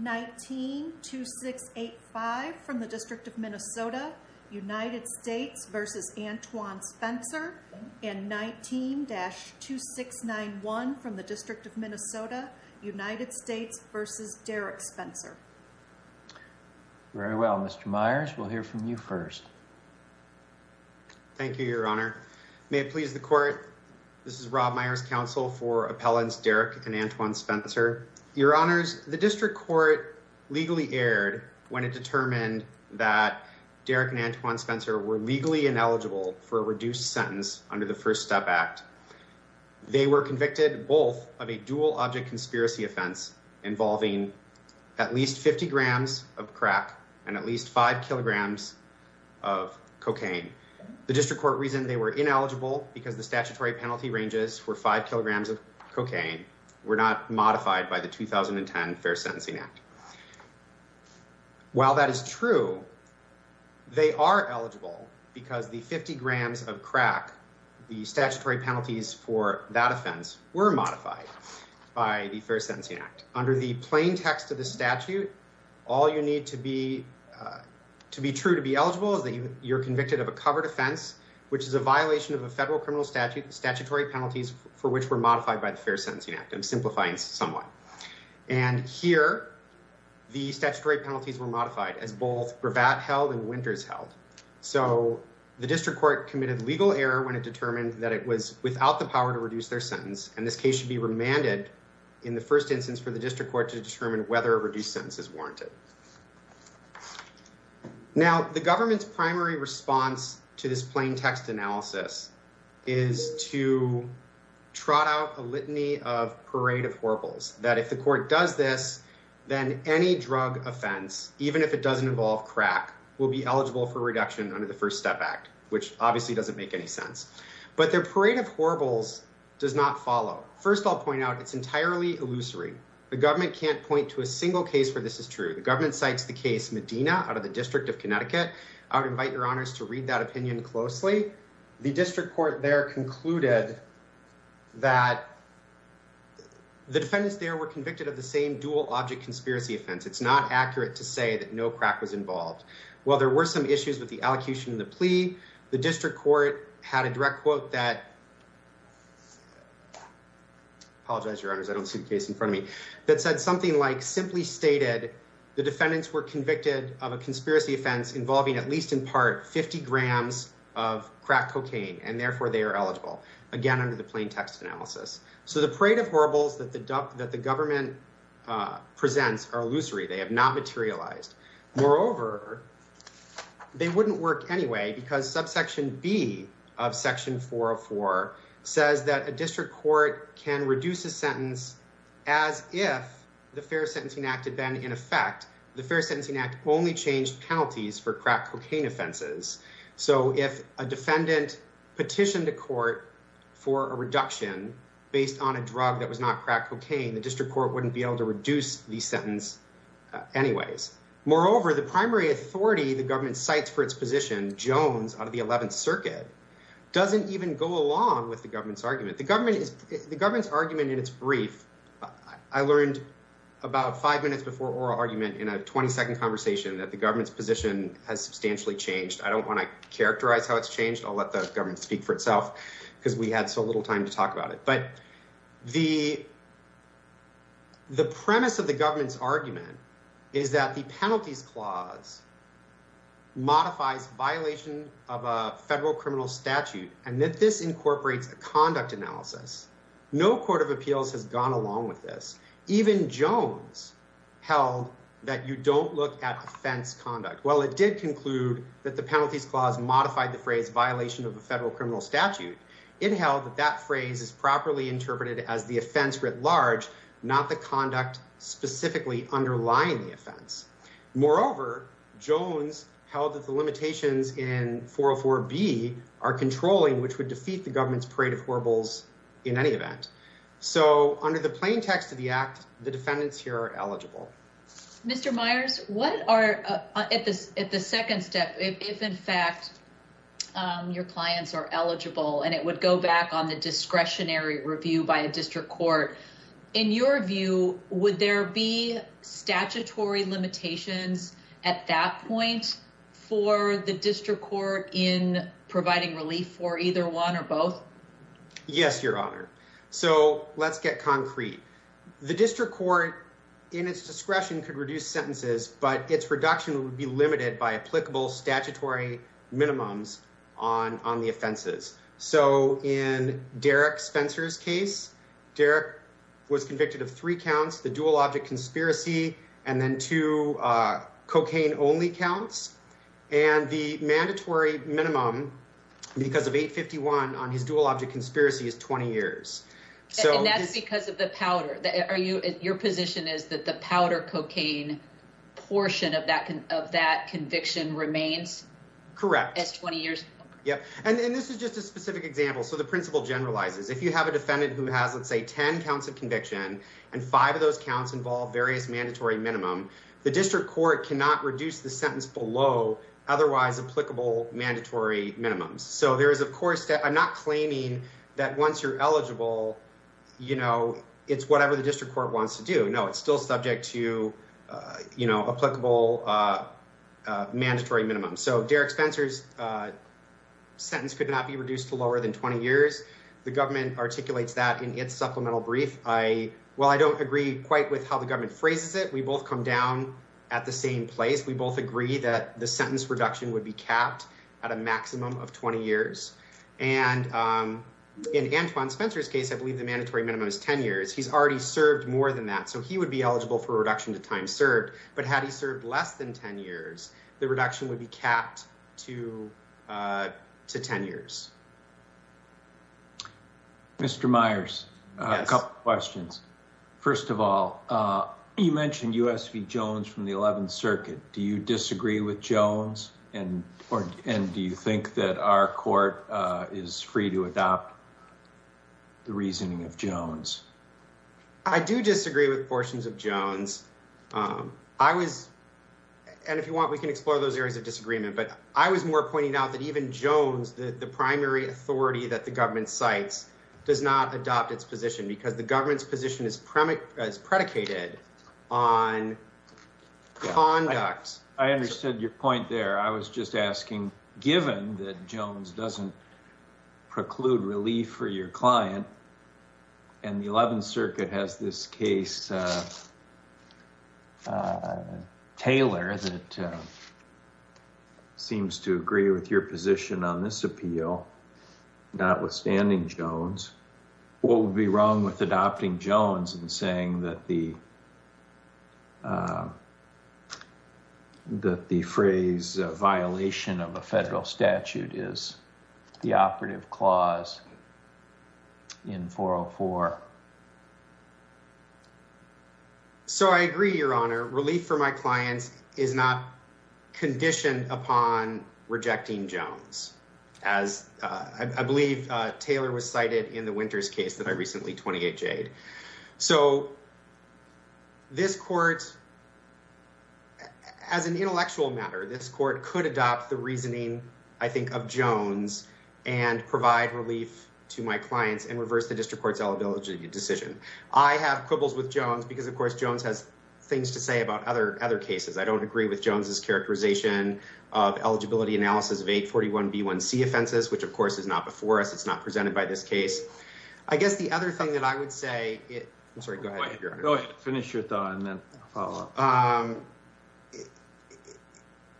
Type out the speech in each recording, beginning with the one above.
19-2685 from the District of Minnesota, United States v. Antwoyn Spencer, and 19-2691 from the District of Minnesota, United States v. Derrick Spencer. Very well, Mr. Myers, we'll hear from you first. Thank you, Your Honor. May it please the Court, this is Rob Myers, counsel for Appellants Derrick and Antwoyn Spencer. Your Honors, the District Court legally erred when it determined that Derrick and Antwoyn Spencer were legally ineligible for a reduced sentence under the First Step Act. They were convicted both of a dual object conspiracy offense involving at least 50 grams of crack and at least 5 kilograms of cocaine. The District Court reasoned they were ineligible because the statutory penalty ranges for 5 kilograms of cocaine were not modified by the 2010 Fair Sentencing Act. While that is true, they are eligible because the 50 grams of crack, the statutory penalties for that offense, were modified by the Fair Sentencing Act. Under the plain text of the statute, all you need to be to be true to be eligible is that you're convicted of a covered offense, which is a violation of a federal criminal statute, statutory penalties for which were modified by the Fair Sentencing Act. I'm simplifying somewhat. And here, the statutory penalties were modified as both Bravatt held and Winters held. So the District Court committed legal error when it determined that it was without the power to reduce their sentence. And this case should be remanded in the first instance for the District Court to this plain text analysis is to trot out a litany of parade of horribles that if the court does this, then any drug offense, even if it doesn't involve crack, will be eligible for reduction under the First Step Act, which obviously doesn't make any sense. But their parade of horribles does not follow. First, I'll point out it's entirely illusory. The government can't point to a single case where this is true. The government cites the case Medina out of the District of Connecticut. I would invite your honors to read that opinion closely. The District Court there concluded that the defendants there were convicted of the same dual object conspiracy offense. It's not accurate to say that no crack was involved. While there were some issues with the allocution of the plea, the District Court had a direct quote that, apologize, your honors, I don't see the case in front of me, that said something like simply the defendants were convicted of a conspiracy offense involving at least in part 50 grams of crack cocaine, and therefore they are eligible, again, under the plain text analysis. So the parade of horribles that the government presents are illusory. They have not materialized. Moreover, they wouldn't work anyway because subsection B of section 404 says that a District of Connecticut Act had been in effect. The Fair Sentencing Act only changed penalties for crack cocaine offenses. So if a defendant petitioned a court for a reduction based on a drug that was not crack cocaine, the District Court wouldn't be able to reduce the sentence anyways. Moreover, the primary authority the government cites for its position, Jones out of the 11th Circuit, doesn't even go along with the government's argument. The government's argument in its brief, I learned about five minutes before oral argument in a 20 second conversation that the government's position has substantially changed. I don't want to characterize how it's changed. I'll let the government speak for itself because we had so little time to talk about it. But the premise of the government's argument is that the penalties clause modifies violation of a federal criminal statute, and that this incorporates a conduct analysis. No court of appeals has gone along with this. Even Jones held that you don't look at offense conduct. While it did conclude that the penalties clause modified the phrase violation of a federal criminal statute, it held that that phrase is properly interpreted as the offense writ large, not the conduct specifically underlying the offense. Moreover, Jones held that the limitations in 404B are controlling, which would defeat the government's parade of horribles in any event. So under the plain text of the act, the defendants here are eligible. Mr. Myers, what are at the second step, if in fact your clients are eligible and it would go back on the discretionary review by a district court. In your view, would there be statutory limitations at that point for the district court in providing relief for either one or both? Yes, your honor. So let's get concrete. The district court in its discretion could reduce sentences, but its reduction would be limited by applicable statutory minimums on the offenses. So in Derek Spencer's case, Derek was convicted of three counts, the dual object conspiracy, and then two cocaine only counts. And the mandatory minimum because of 851 on his dual object conspiracy is 20 years. And that's because of the powder. Are you, your position is that the powder cocaine portion of that conviction remains? Correct. As 20 years? Yep. And this is just a specific example. So the principle generalizes. If you have a defendant who has, let's say, 10 counts of conviction and five of those counts involve various mandatory minimum, the district court cannot reduce the sentence below otherwise applicable mandatory minimums. So there is, of course, I'm not claiming that once you're eligible, you know, it's whatever the district court wants to do. No, it's still subject to, you know, applicable mandatory minimum. So Derek Spencer's sentence could not be reduced to lower than 20 years. The government articulates that in its supplemental brief. I, well, I don't agree quite with how the government phrases it. We both come down at the same place. We both agree that the sentence reduction would be capped at a maximum of 20 years. And in Antoine Spencer's case, I believe the mandatory minimum is 10 years. He's already served more than that. So he would be eligible for a reduction to time served, but had he served less than 10 years, the reduction would be capped to 10 years. Mr. Myers, a couple of questions. First of all, you mentioned U.S. v. Jones from the 11th Circuit. Do you disagree with Jones? And do you think that our court is free to adopt the reasoning of Jones? I do disagree with portions of Jones. I was, and if you want, we can explore those areas of disagreement. But I was more pointing out that even Jones, the primary authority that the government cites does not adopt its position because the government's position is predicated on conduct. I understood your point there. I was just asking, given that Jones doesn't preclude relief for your client and the 11th Circuit has this case, Taylor, that seems to agree with your position on this appeal, notwithstanding Jones, what would be wrong with adopting Jones and saying that the phrase violation of a federal statute is the operative clause in 404? So I agree, Your Honor. Relief for my client is not conditioned upon rejecting Jones, as I believe Taylor was cited in the Winters case that I recently 20HA'd. So this court, as an intellectual matter, this court could adopt the reasoning, I think, of Jones and provide relief to my clients and reverse the district court's decision. I have quibbles with Jones because, of course, Jones has things to say about other cases. I don't agree with Jones's characterization of eligibility analysis of 841b1c offenses, which of course is not before us. It's not presented by this case. I guess the other thing that I would say, I'm sorry, go ahead. Go ahead. Finish your thought and then follow up.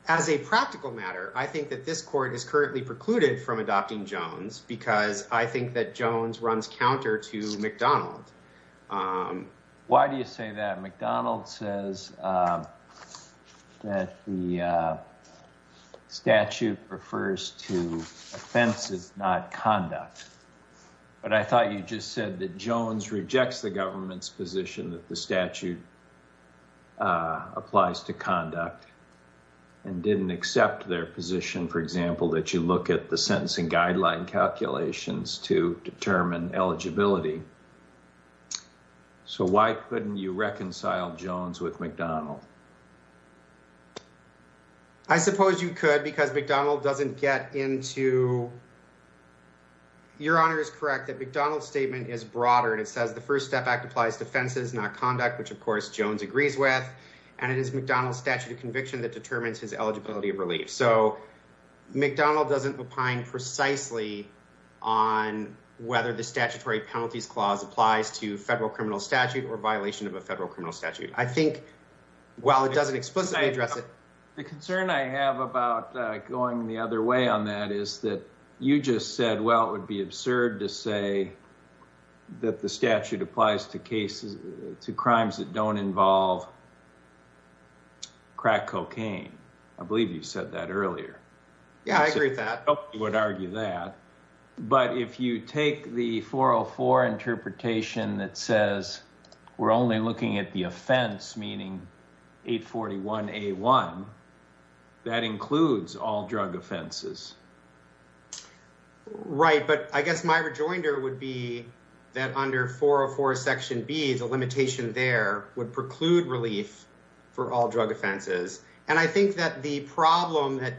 As a practical matter, I think that this court is currently precluded from adopting Jones because I think that Jones runs counter to McDonald. Why do you say that? McDonald says that the statute refers to offenses, not conduct. But I thought you just said that Jones rejects the government's position that the statute applies to conduct and didn't accept their position, for example, that you look at the sentencing guideline calculations to McDonald. I suppose you could because McDonald doesn't get into... Your Honor is correct that McDonald's statement is broader and it says the First Step Act applies to offenses, not conduct, which of course Jones agrees with, and it is McDonald's statute of conviction that determines his eligibility of relief. So McDonald doesn't opine precisely on whether the statutory penalties clause applies to federal criminal statute or violation of a while. It doesn't explicitly address it. The concern I have about going the other way on that is that you just said, well, it would be absurd to say that the statute applies to cases, to crimes that don't involve crack cocaine. I believe you said that earlier. Yeah, I agree with that. Nobody would argue that. But if you take the 404 interpretation that says we're only looking at the offense, meaning 841A1, that includes all drug offenses. Right. But I guess my rejoinder would be that under 404 Section B, the limitation there would preclude relief for all drug offenses. And I think that the problem that...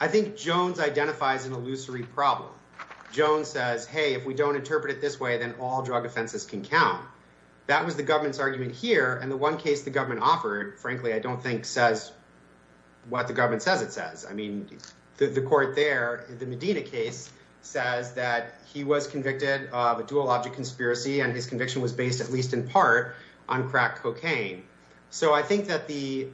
I think Jones identifies an illusory problem. Jones says, hey, if we don't interpret it this way, then all drug offenses can count. That was the government's argument here. And the one case the government offered, frankly, I don't think says what the government says it says. I mean, the court there, the Medina case, says that he was convicted of a dual object conspiracy, and his conviction was based at least in part on crack cocaine. So I think that the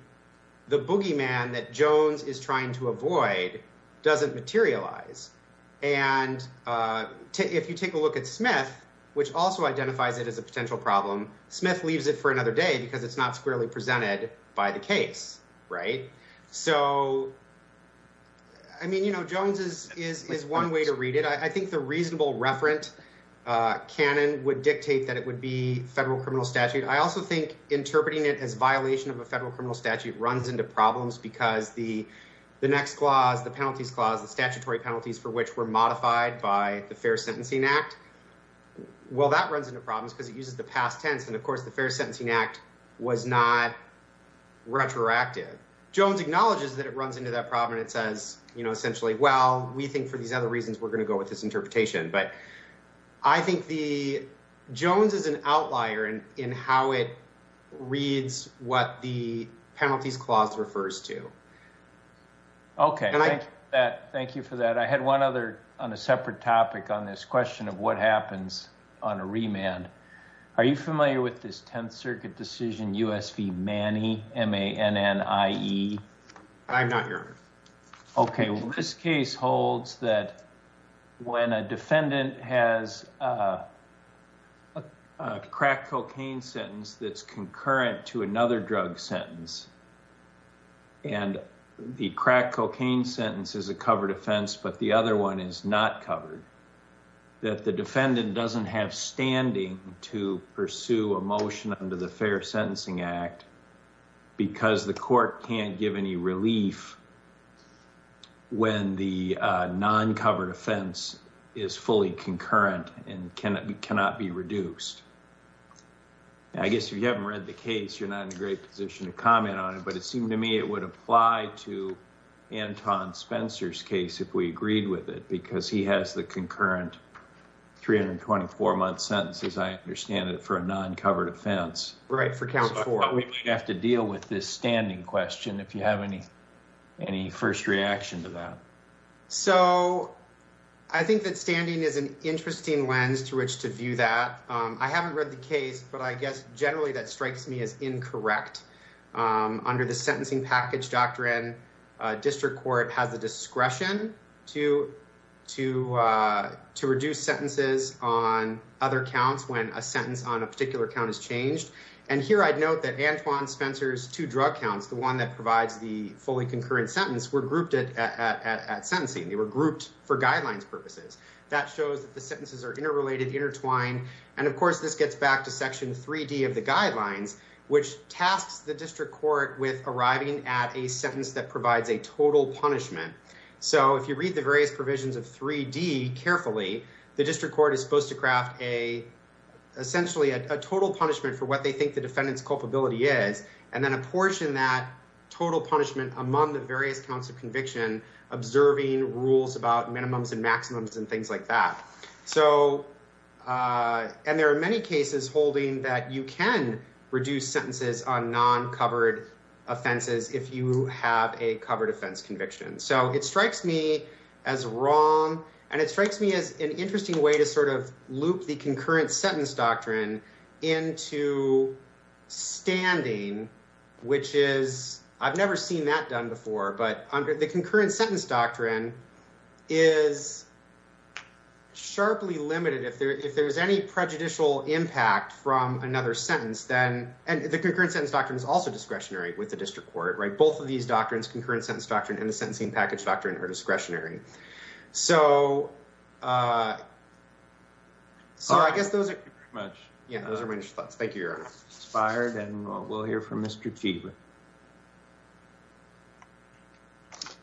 which also identifies it as a potential problem. Smith leaves it for another day because it's not squarely presented by the case, right? So I mean, Jones is one way to read it. I think the reasonable referent canon would dictate that it would be federal criminal statute. I also think interpreting it as violation of a federal criminal statute runs into problems because the next clause, the penalties clause, the statutory penalties for which were modified by the Fair Sentencing Act, well, that runs into problems because it uses the past tense. And of course, the Fair Sentencing Act was not retroactive. Jones acknowledges that it runs into that problem and it says, essentially, well, we think for these other reasons, we're going to go with this interpretation. But I think Jones is an outlier in how it reads what the penalties clause refers to. Okay, thank you for that. I had one other on a separate topic on this question of what happens on a remand. Are you familiar with this Tenth Circuit decision, U.S. v. Manny, M-A-N-N-I-E? I'm not here. Okay, well, this case holds that when a defendant has a crack cocaine sentence that's concurrent to another drug sentence, and the crack cocaine sentence is a covered offense, but the other one is not covered, that the defendant doesn't have standing to pursue a motion under the Fair Sentencing Act because the court can't give any relief when the non-covered offense is fully concurrent and cannot be reduced. I guess if you haven't read the case, you're not in a great position to comment on it, but it seemed to me it would apply to Anton Spencer's case if we agreed with it because he has the concurrent 324-month sentence, as I understand it, for a non-covered offense. Right, for count 4. We might have to deal with this standing question if you have any first reaction to that. So, I think that standing is an interesting lens to which to view that. I haven't read the case, but I guess generally that strikes me as incorrect. Under the Sentencing Package Doctrine, district court has the discretion to reduce sentences on other counts when a sentence on a particular count is changed, and here I'd note that Anton Spencer's two drug counts, the one that provides the fully concurrent sentence, were grouped at sentencing. They were grouped for guidelines purposes. That shows that the sentences are interrelated, intertwined, and of course, this gets back to Section 3D of the guidelines, which tasks the district court with arriving at a sentence that provides a total punishment. So, if you read the various provisions of 3D carefully, the district court is supposed to craft essentially a total punishment for what they think the defendant's culpability is, and then apportion that total punishment among the various counts of conviction, observing rules about minimums and maximums and things like that. And there are many cases holding that you can reduce sentences on non-covered offenses if you have a covered offense conviction. So, it strikes me as wrong, and it strikes me as an interesting way to sort of loop the concurrent sentence doctrine into standing, which is, I've never seen that done before, but under the concurrent sentence doctrine is sharply limited. If there's any prejudicial impact from another sentence, then, and the concurrent sentence doctrine is also discretionary with the district court, right? Both of these doctrines, concurrent sentence and the sentencing package doctrine are discretionary. So, I guess those are pretty much, yeah, those are my thoughts. Thank you, Your Honor. Inspired, and we'll hear from Mr. Cheever.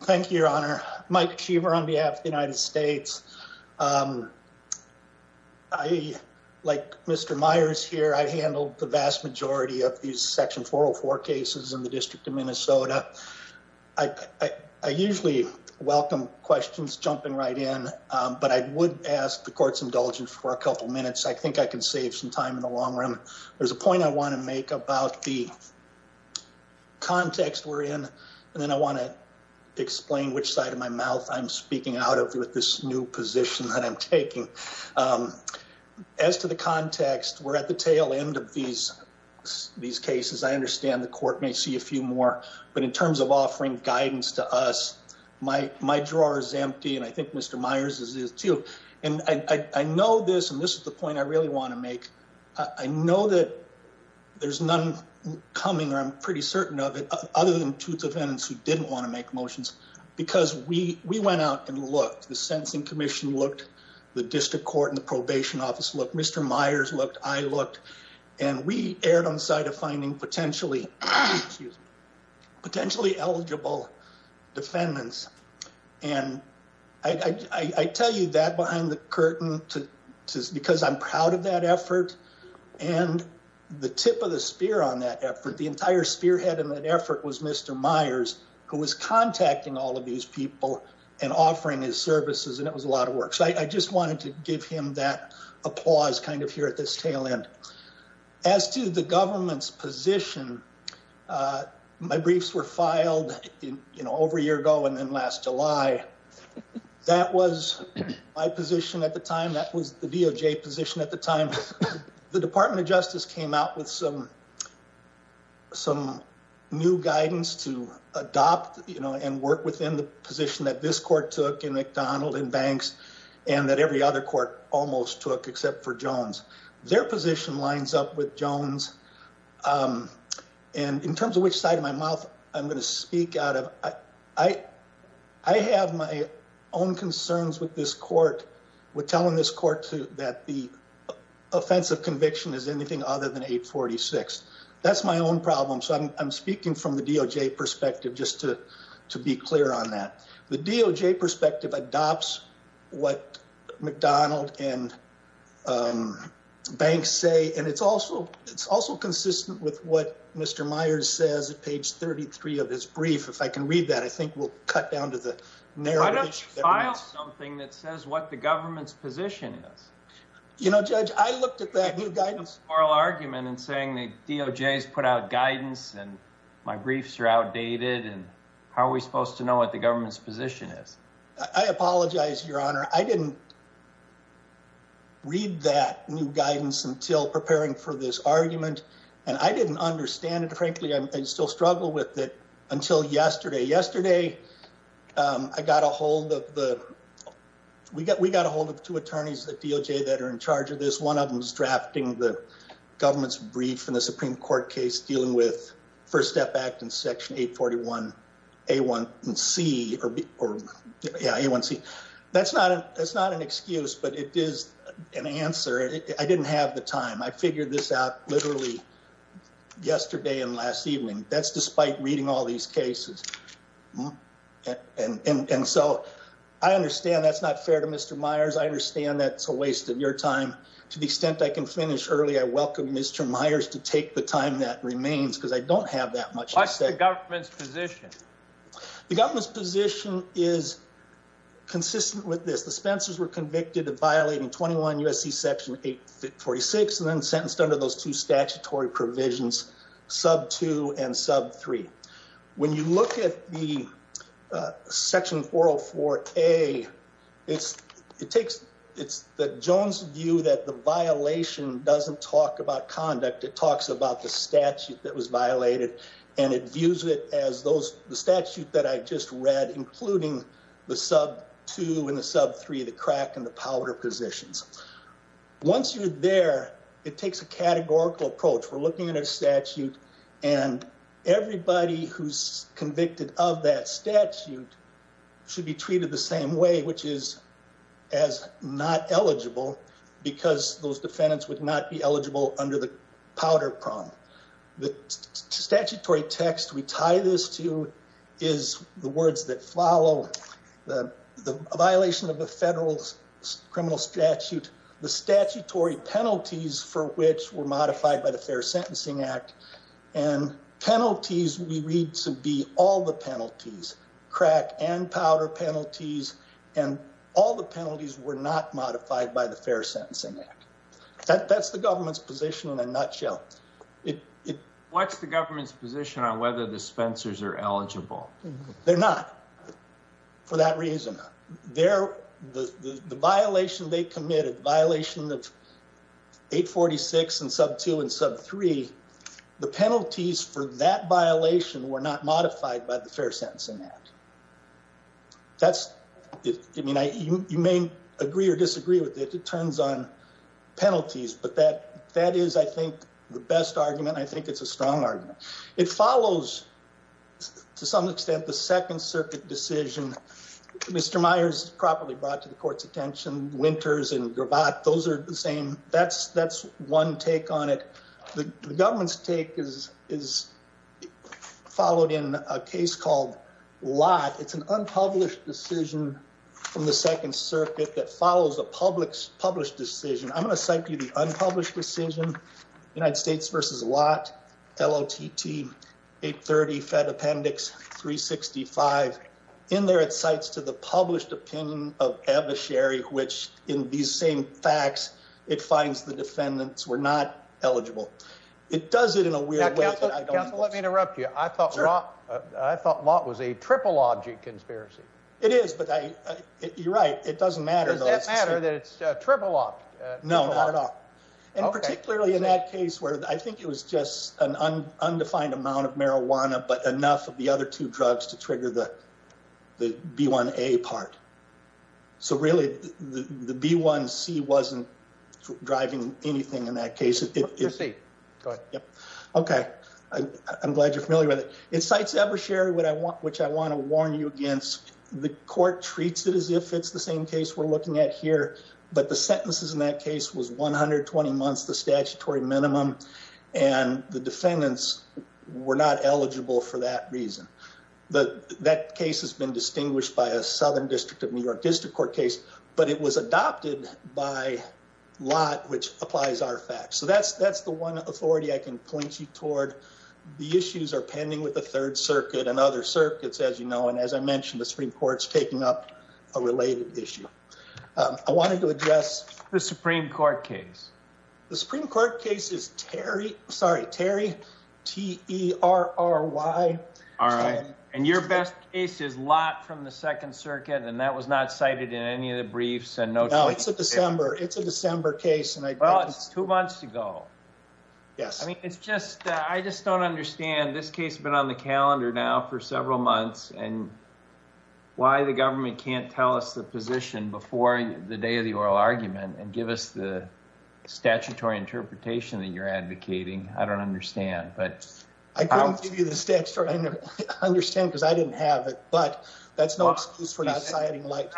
Thank you, Your Honor. Mike Cheever on behalf of the United States. I, like Mr. Myers here, I handled the vast majority of these Section 404 cases in the I usually welcome questions jumping right in, but I would ask the court's indulgence for a couple minutes. I think I can save some time in the long run. There's a point I want to make about the context we're in, and then I want to explain which side of my mouth I'm speaking out of with this new position that I'm taking. As to the context, we're at the tail end of these cases. I understand the court may see a few more, but in terms of offering guidance to us, my drawer is empty, and I think Mr. Myers's is, too. And I know this, and this is the point I really want to make. I know that there's none coming, or I'm pretty certain of it, other than two defendants who didn't want to make motions, because we went out and looked. The Sentencing Commission looked. The District Court and the Probation Office looked. Mr. Myers looked. I looked. And we erred on the side of finding potentially eligible defendants. And I tell you that behind the curtain because I'm proud of that effort. And the tip of the spear on that effort, the entire spearhead of that effort was Mr. Myers, who was contacting all of these people and offering his services, and it was a lot of work. So I just wanted to give him that tail end. As to the government's position, my briefs were filed over a year ago and then last July. That was my position at the time. That was the DOJ position at the time. The Department of Justice came out with some new guidance to adopt and work within the position that this court took in Banks and that every other court almost took except for Jones. Their position lines up with Jones. And in terms of which side of my mouth I'm going to speak out of, I have my own concerns with this court with telling this court that the offense of conviction is anything other than 846. That's my own problem. So I'm speaking from the DOJ perspective just to be clear on that. The DOJ perspective adopts what McDonald and Banks say, and it's also consistent with what Mr. Myers says at page 33 of his brief. If I can read that, I think we'll cut down to the narrative. I don't file something that says what the government's position is. You know, Judge, I looked at that new guidance oral argument and saying the DOJ's put out guidance and my briefs are outdated, and how are we supposed to know what the government's position is? I apologize, Your Honor. I didn't read that new guidance until preparing for this argument, and I didn't understand it. Frankly, I still struggle with it until yesterday. Yesterday, we got a hold of two attorneys at DOJ that are in charge of this. One of them is drafting the Supreme Court case dealing with First Step Act and Section 841A1C. That's not an excuse, but it is an answer. I didn't have the time. I figured this out literally yesterday and last evening. That's despite reading all these cases. And so I understand that's not fair to Mr. Myers. I understand that's a waste of your time. To the extent I can finish early, I welcome Mr. Myers. I'm not going to take the time that remains because I don't have that much. What's the government's position? The government's position is consistent with this. The Spencers were convicted of violating 21 U.S.C. Section 846 and then sentenced under those two statutory provisions, sub 2 and sub 3. When you look at the Section 404A, it's the Jones view that the statute that was violated and it views it as the statute that I just read, including the sub 2 and the sub 3, the crack and the powder positions. Once you're there, it takes a categorical approach. We're looking at a statute and everybody who's convicted of that statute should be treated the same way, which is as not eligible because those defendants would not be eligible under the powder prong. The statutory text we tie this to is the words that follow the violation of the federal criminal statute, the statutory penalties for which were modified by the Fair Sentencing Act, and penalties we read to be all the penalties, crack and powder penalties, and all the penalties were not modified by the Fair Sentencing Act. That's the government's position in a nutshell. What's the government's position on whether the spencers are eligible? They're not for that reason. The violation they committed, violation of 846 and sub 2 and sub 3, the penalties for that violation were not modified by the Fair Sentencing Act. You may agree or disagree with it. It turns on penalties, but that is, I think, the best argument. I think it's a strong argument. It follows, to some extent, the Second Circuit decision. Mr. Myers properly brought to the court's attention, Winters and Gravatt, those are the same. That's one take on it. The government's take is followed in a case called Lott. It's an unpublished decision from the Second Circuit that follows a published decision. I'm going to cite the unpublished decision, United States v. Lott, L-O-T-T, 830 Fed Appendix 365. In there, it cites to the published opinion of ambassadorship, which in these same facts, it finds the defendants were not eligible. It does it in a weird way. Counsel, let me interrupt you. I thought Lott was a triple object conspiracy. It is, but you're right. It doesn't matter. Does it matter that it's a and particularly in that case where I think it was just an undefined amount of marijuana, but enough of the other two drugs to trigger the B1A part. Really, the B1C wasn't driving anything in that case. Proceed. Go ahead. I'm glad you're familiar with it. It cites Ebersherry, which I want to warn you against. The court treats it as if it's the same case we're looking at here, but the sentences in that case was 120 months, the statutory minimum, and the defendants were not eligible for that reason. That case has been distinguished by a Southern District of New York District Court case, but it was adopted by Lott, which applies our facts. That's the one authority I can point you toward. The issues are pending with the Third Circuit and other circuits, and as I mentioned, the Supreme Court's taking up a related issue. I wanted to address... The Supreme Court case. The Supreme Court case is Terry, sorry, Terry, T-E-R-R-Y. All right, and your best case is Lott from the Second Circuit, and that was not cited in any of the briefs. No, it's a December case. Well, it's two months to go. I just don't understand. This case has been on the calendar now for several months, and why the government can't tell us the position before the day of the oral argument and give us the statutory interpretation that you're advocating, I don't understand, but... I couldn't give you the statutory... I understand because I didn't have it, but that's no excuse for not citing Lott.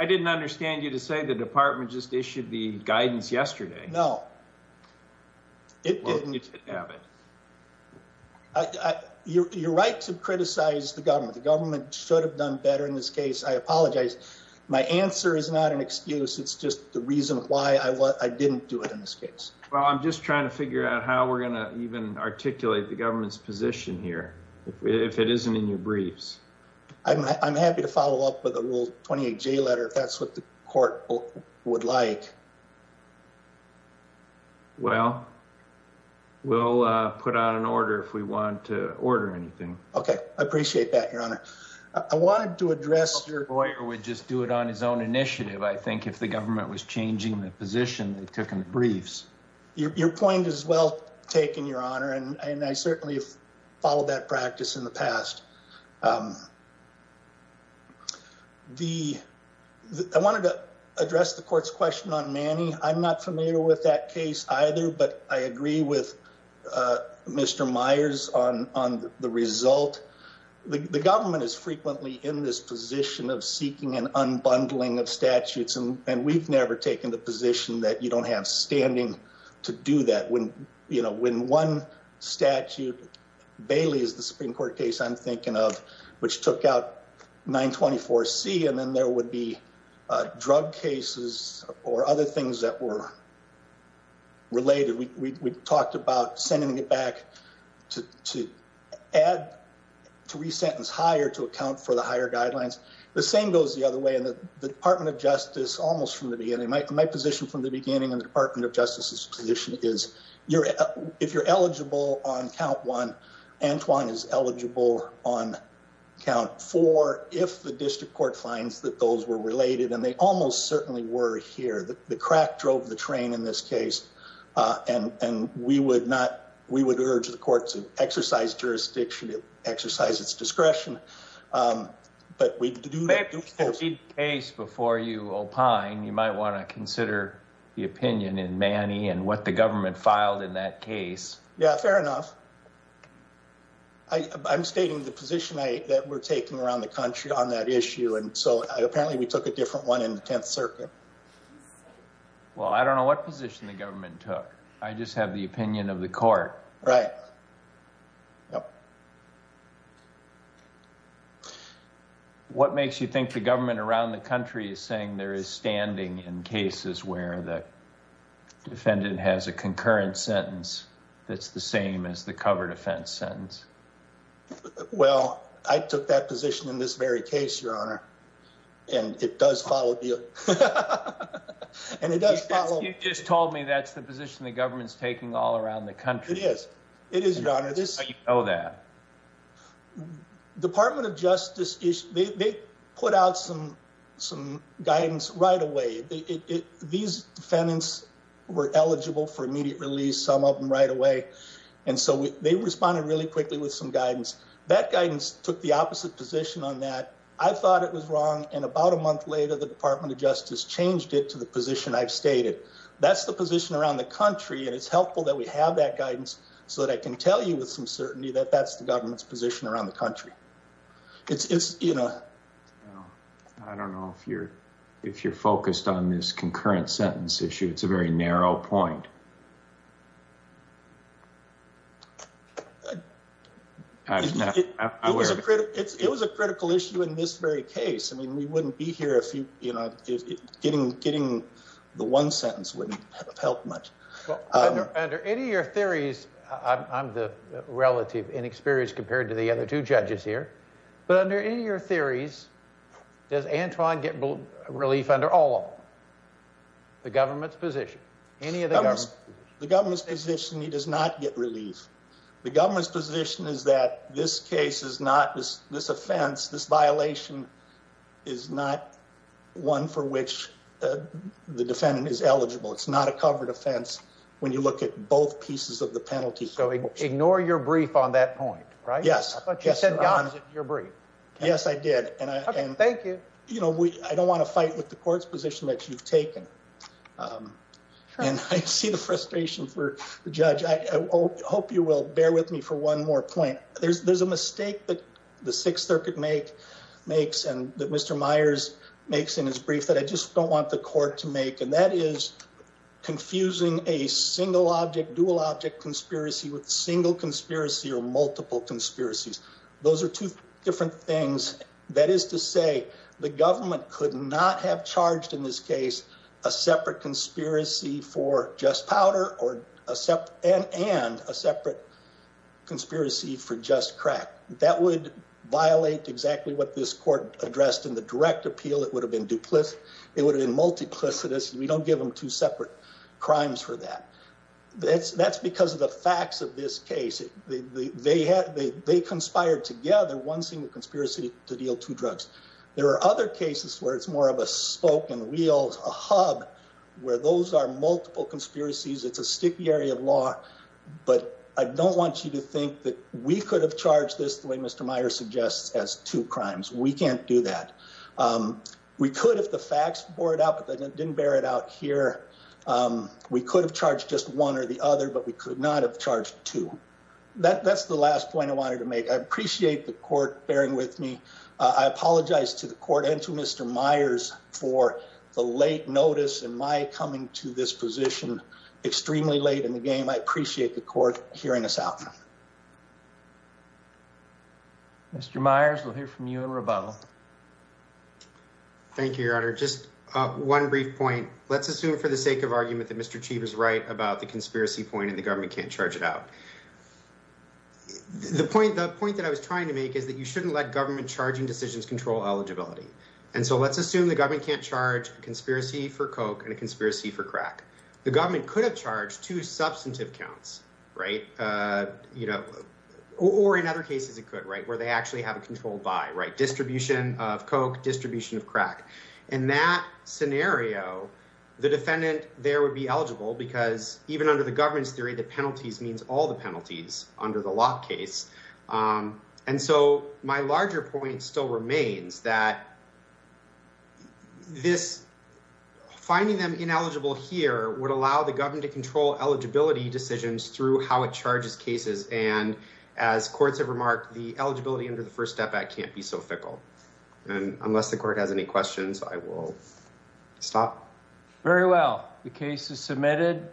I didn't understand you to say the department just issued the guidance yesterday. No. You're right to criticize the government. The government should have done better in this case. I apologize. My answer is not an excuse. It's just the reason why I didn't do it in this case. Well, I'm just trying to figure out how we're going to even articulate the government's position here if it isn't in your briefs. I'm happy to follow up with a Rule 28J letter if that's what the court would like. Well, we'll put out an order if we want to order anything. Okay, I appreciate that, Your Honor. I wanted to address... Your lawyer would just do it on his own initiative, I think, if the government was changing the position they took in the briefs. Your point is well taken, Your Honor, and I certainly have followed that practice in the past. I wanted to address the court's question on Manny. I'm not familiar with that case either, but I agree with Mr. Myers on the result. The government is frequently in this position of seeking an unbundling of statutes, and we've never taken the position that you don't have standing to do that. When one statute, Bailey is the Supreme Court case I'm thinking of, which took out 924C, and then there would be drug cases or other things that were related. We talked about sending it back to re-sentence higher to account for the higher guidelines. The same goes the other way in the Department of Justice almost from the beginning. My position from the beginning in the Department of Justice's position is, if you're eligible on count one, Antoine is eligible on count four if the district court finds that those were related, and they almost certainly were here. The crack drove the train in this case, and we would urge the court to exercise jurisdiction, exercise its discretion, but we do need to proceed. Before you opine, you might want to consider the opinion in Manny and what the government filed in that case. Yeah, fair enough. I'm stating the position that we're taking around the country on that issue, and so apparently we took a different one in the 10th Circuit. Well, I don't know what position the government took. I just have the opinion of the court. Right. What makes you think the government around the country is saying there is standing in cases where the defendant has a concurrent sentence that's the same as the covered offense sentence? Well, I took that position in this very case, Your Honor, and it does follow. You just told me that's the position the government's taking all around the country. It is, Your Honor. How do you know that? Department of Justice, they put out some guidance right away. These defendants were eligible for immediate release, some of them right away, and so they responded really quickly with some guidance. That guidance took the opposite position on that. I thought it was wrong, and about a month later, the Department of Justice changed it to the position I've stated. That's the position around the country, and it's helpful that we have that guidance so that I can tell you with some certainty that that's the government's position around the country. I don't know if you're focused on this concurrent sentence issue. It's a very narrow point. It was a critical issue in this very case. I mean, we wouldn't be here if getting the one under any of your theories. I'm the relative inexperienced compared to the other two judges here, but under any of your theories, does Antoine get relief under all of them? The government's position, any of the government's position, he does not get relief. The government's position is that this case is not, this offense, this violation is not one for which the defendant is eligible. It's not a covered offense when you look at both pieces of the penalty. So ignore your brief on that point, right? Yes. I thought you said your brief. Yes, I did. Okay, thank you. I don't want to fight with the court's position that you've taken, and I see the frustration for the judge. I hope you will bear with me for one more point. There's a mistake that the Sixth Circuit makes and that Mr. Myers makes in his brief that I just don't want the court to make, and that is confusing a single-object, dual-object conspiracy with single conspiracy or multiple conspiracies. Those are two different things. That is to say, the government could not have charged in this case a separate conspiracy for just powder or and a separate conspiracy for just crack. That would violate exactly what this court addressed in the direct appeal. It would have been duplicitous. We don't give them two separate crimes for that. That's because of the facts of this case. They conspired together one single conspiracy to deal two drugs. There are other cases where it's more of a spoke and wheels, a hub where those are multiple conspiracies. It's a sticky area of law, but I don't want you to think that we could have charged this the way Mr. Myers suggests as two crimes. We can't do that. We could if the facts bore it out, but they didn't bear it out here. We could have charged just one or the other, but we could not have charged two. That's the last point I wanted to make. I appreciate the court bearing with me. I apologize to the court and to Mr. Myers for the late notice and my coming to this position extremely late in the game. I appreciate the court hearing us out. Mr. Myers, we'll hear from you in rebuttal. Thank you, Your Honor. Just one brief point. Let's assume for the sake of argument that Mr. Chief is right about the conspiracy point and the government can't charge it out. The point that I was trying to make is that you shouldn't let government charging decisions control eligibility. Let's assume the government can't charge a conspiracy for coke and a conspiracy for crack. The government could have charged two substantive counts, or in other cases it could, where they actually have a controlled buy, distribution of coke, distribution of crack. In that scenario, the defendant there would be eligible because even under the government's theory, the penalties means all the penalties under the lock case. My larger point still remains that finding them ineligible here would allow the government to control eligibility decisions through how it charges cases. And as courts have remarked, the eligibility under the first step act can't be so fickle. Unless the court has any questions, I will stop. Very well. The case is submitted.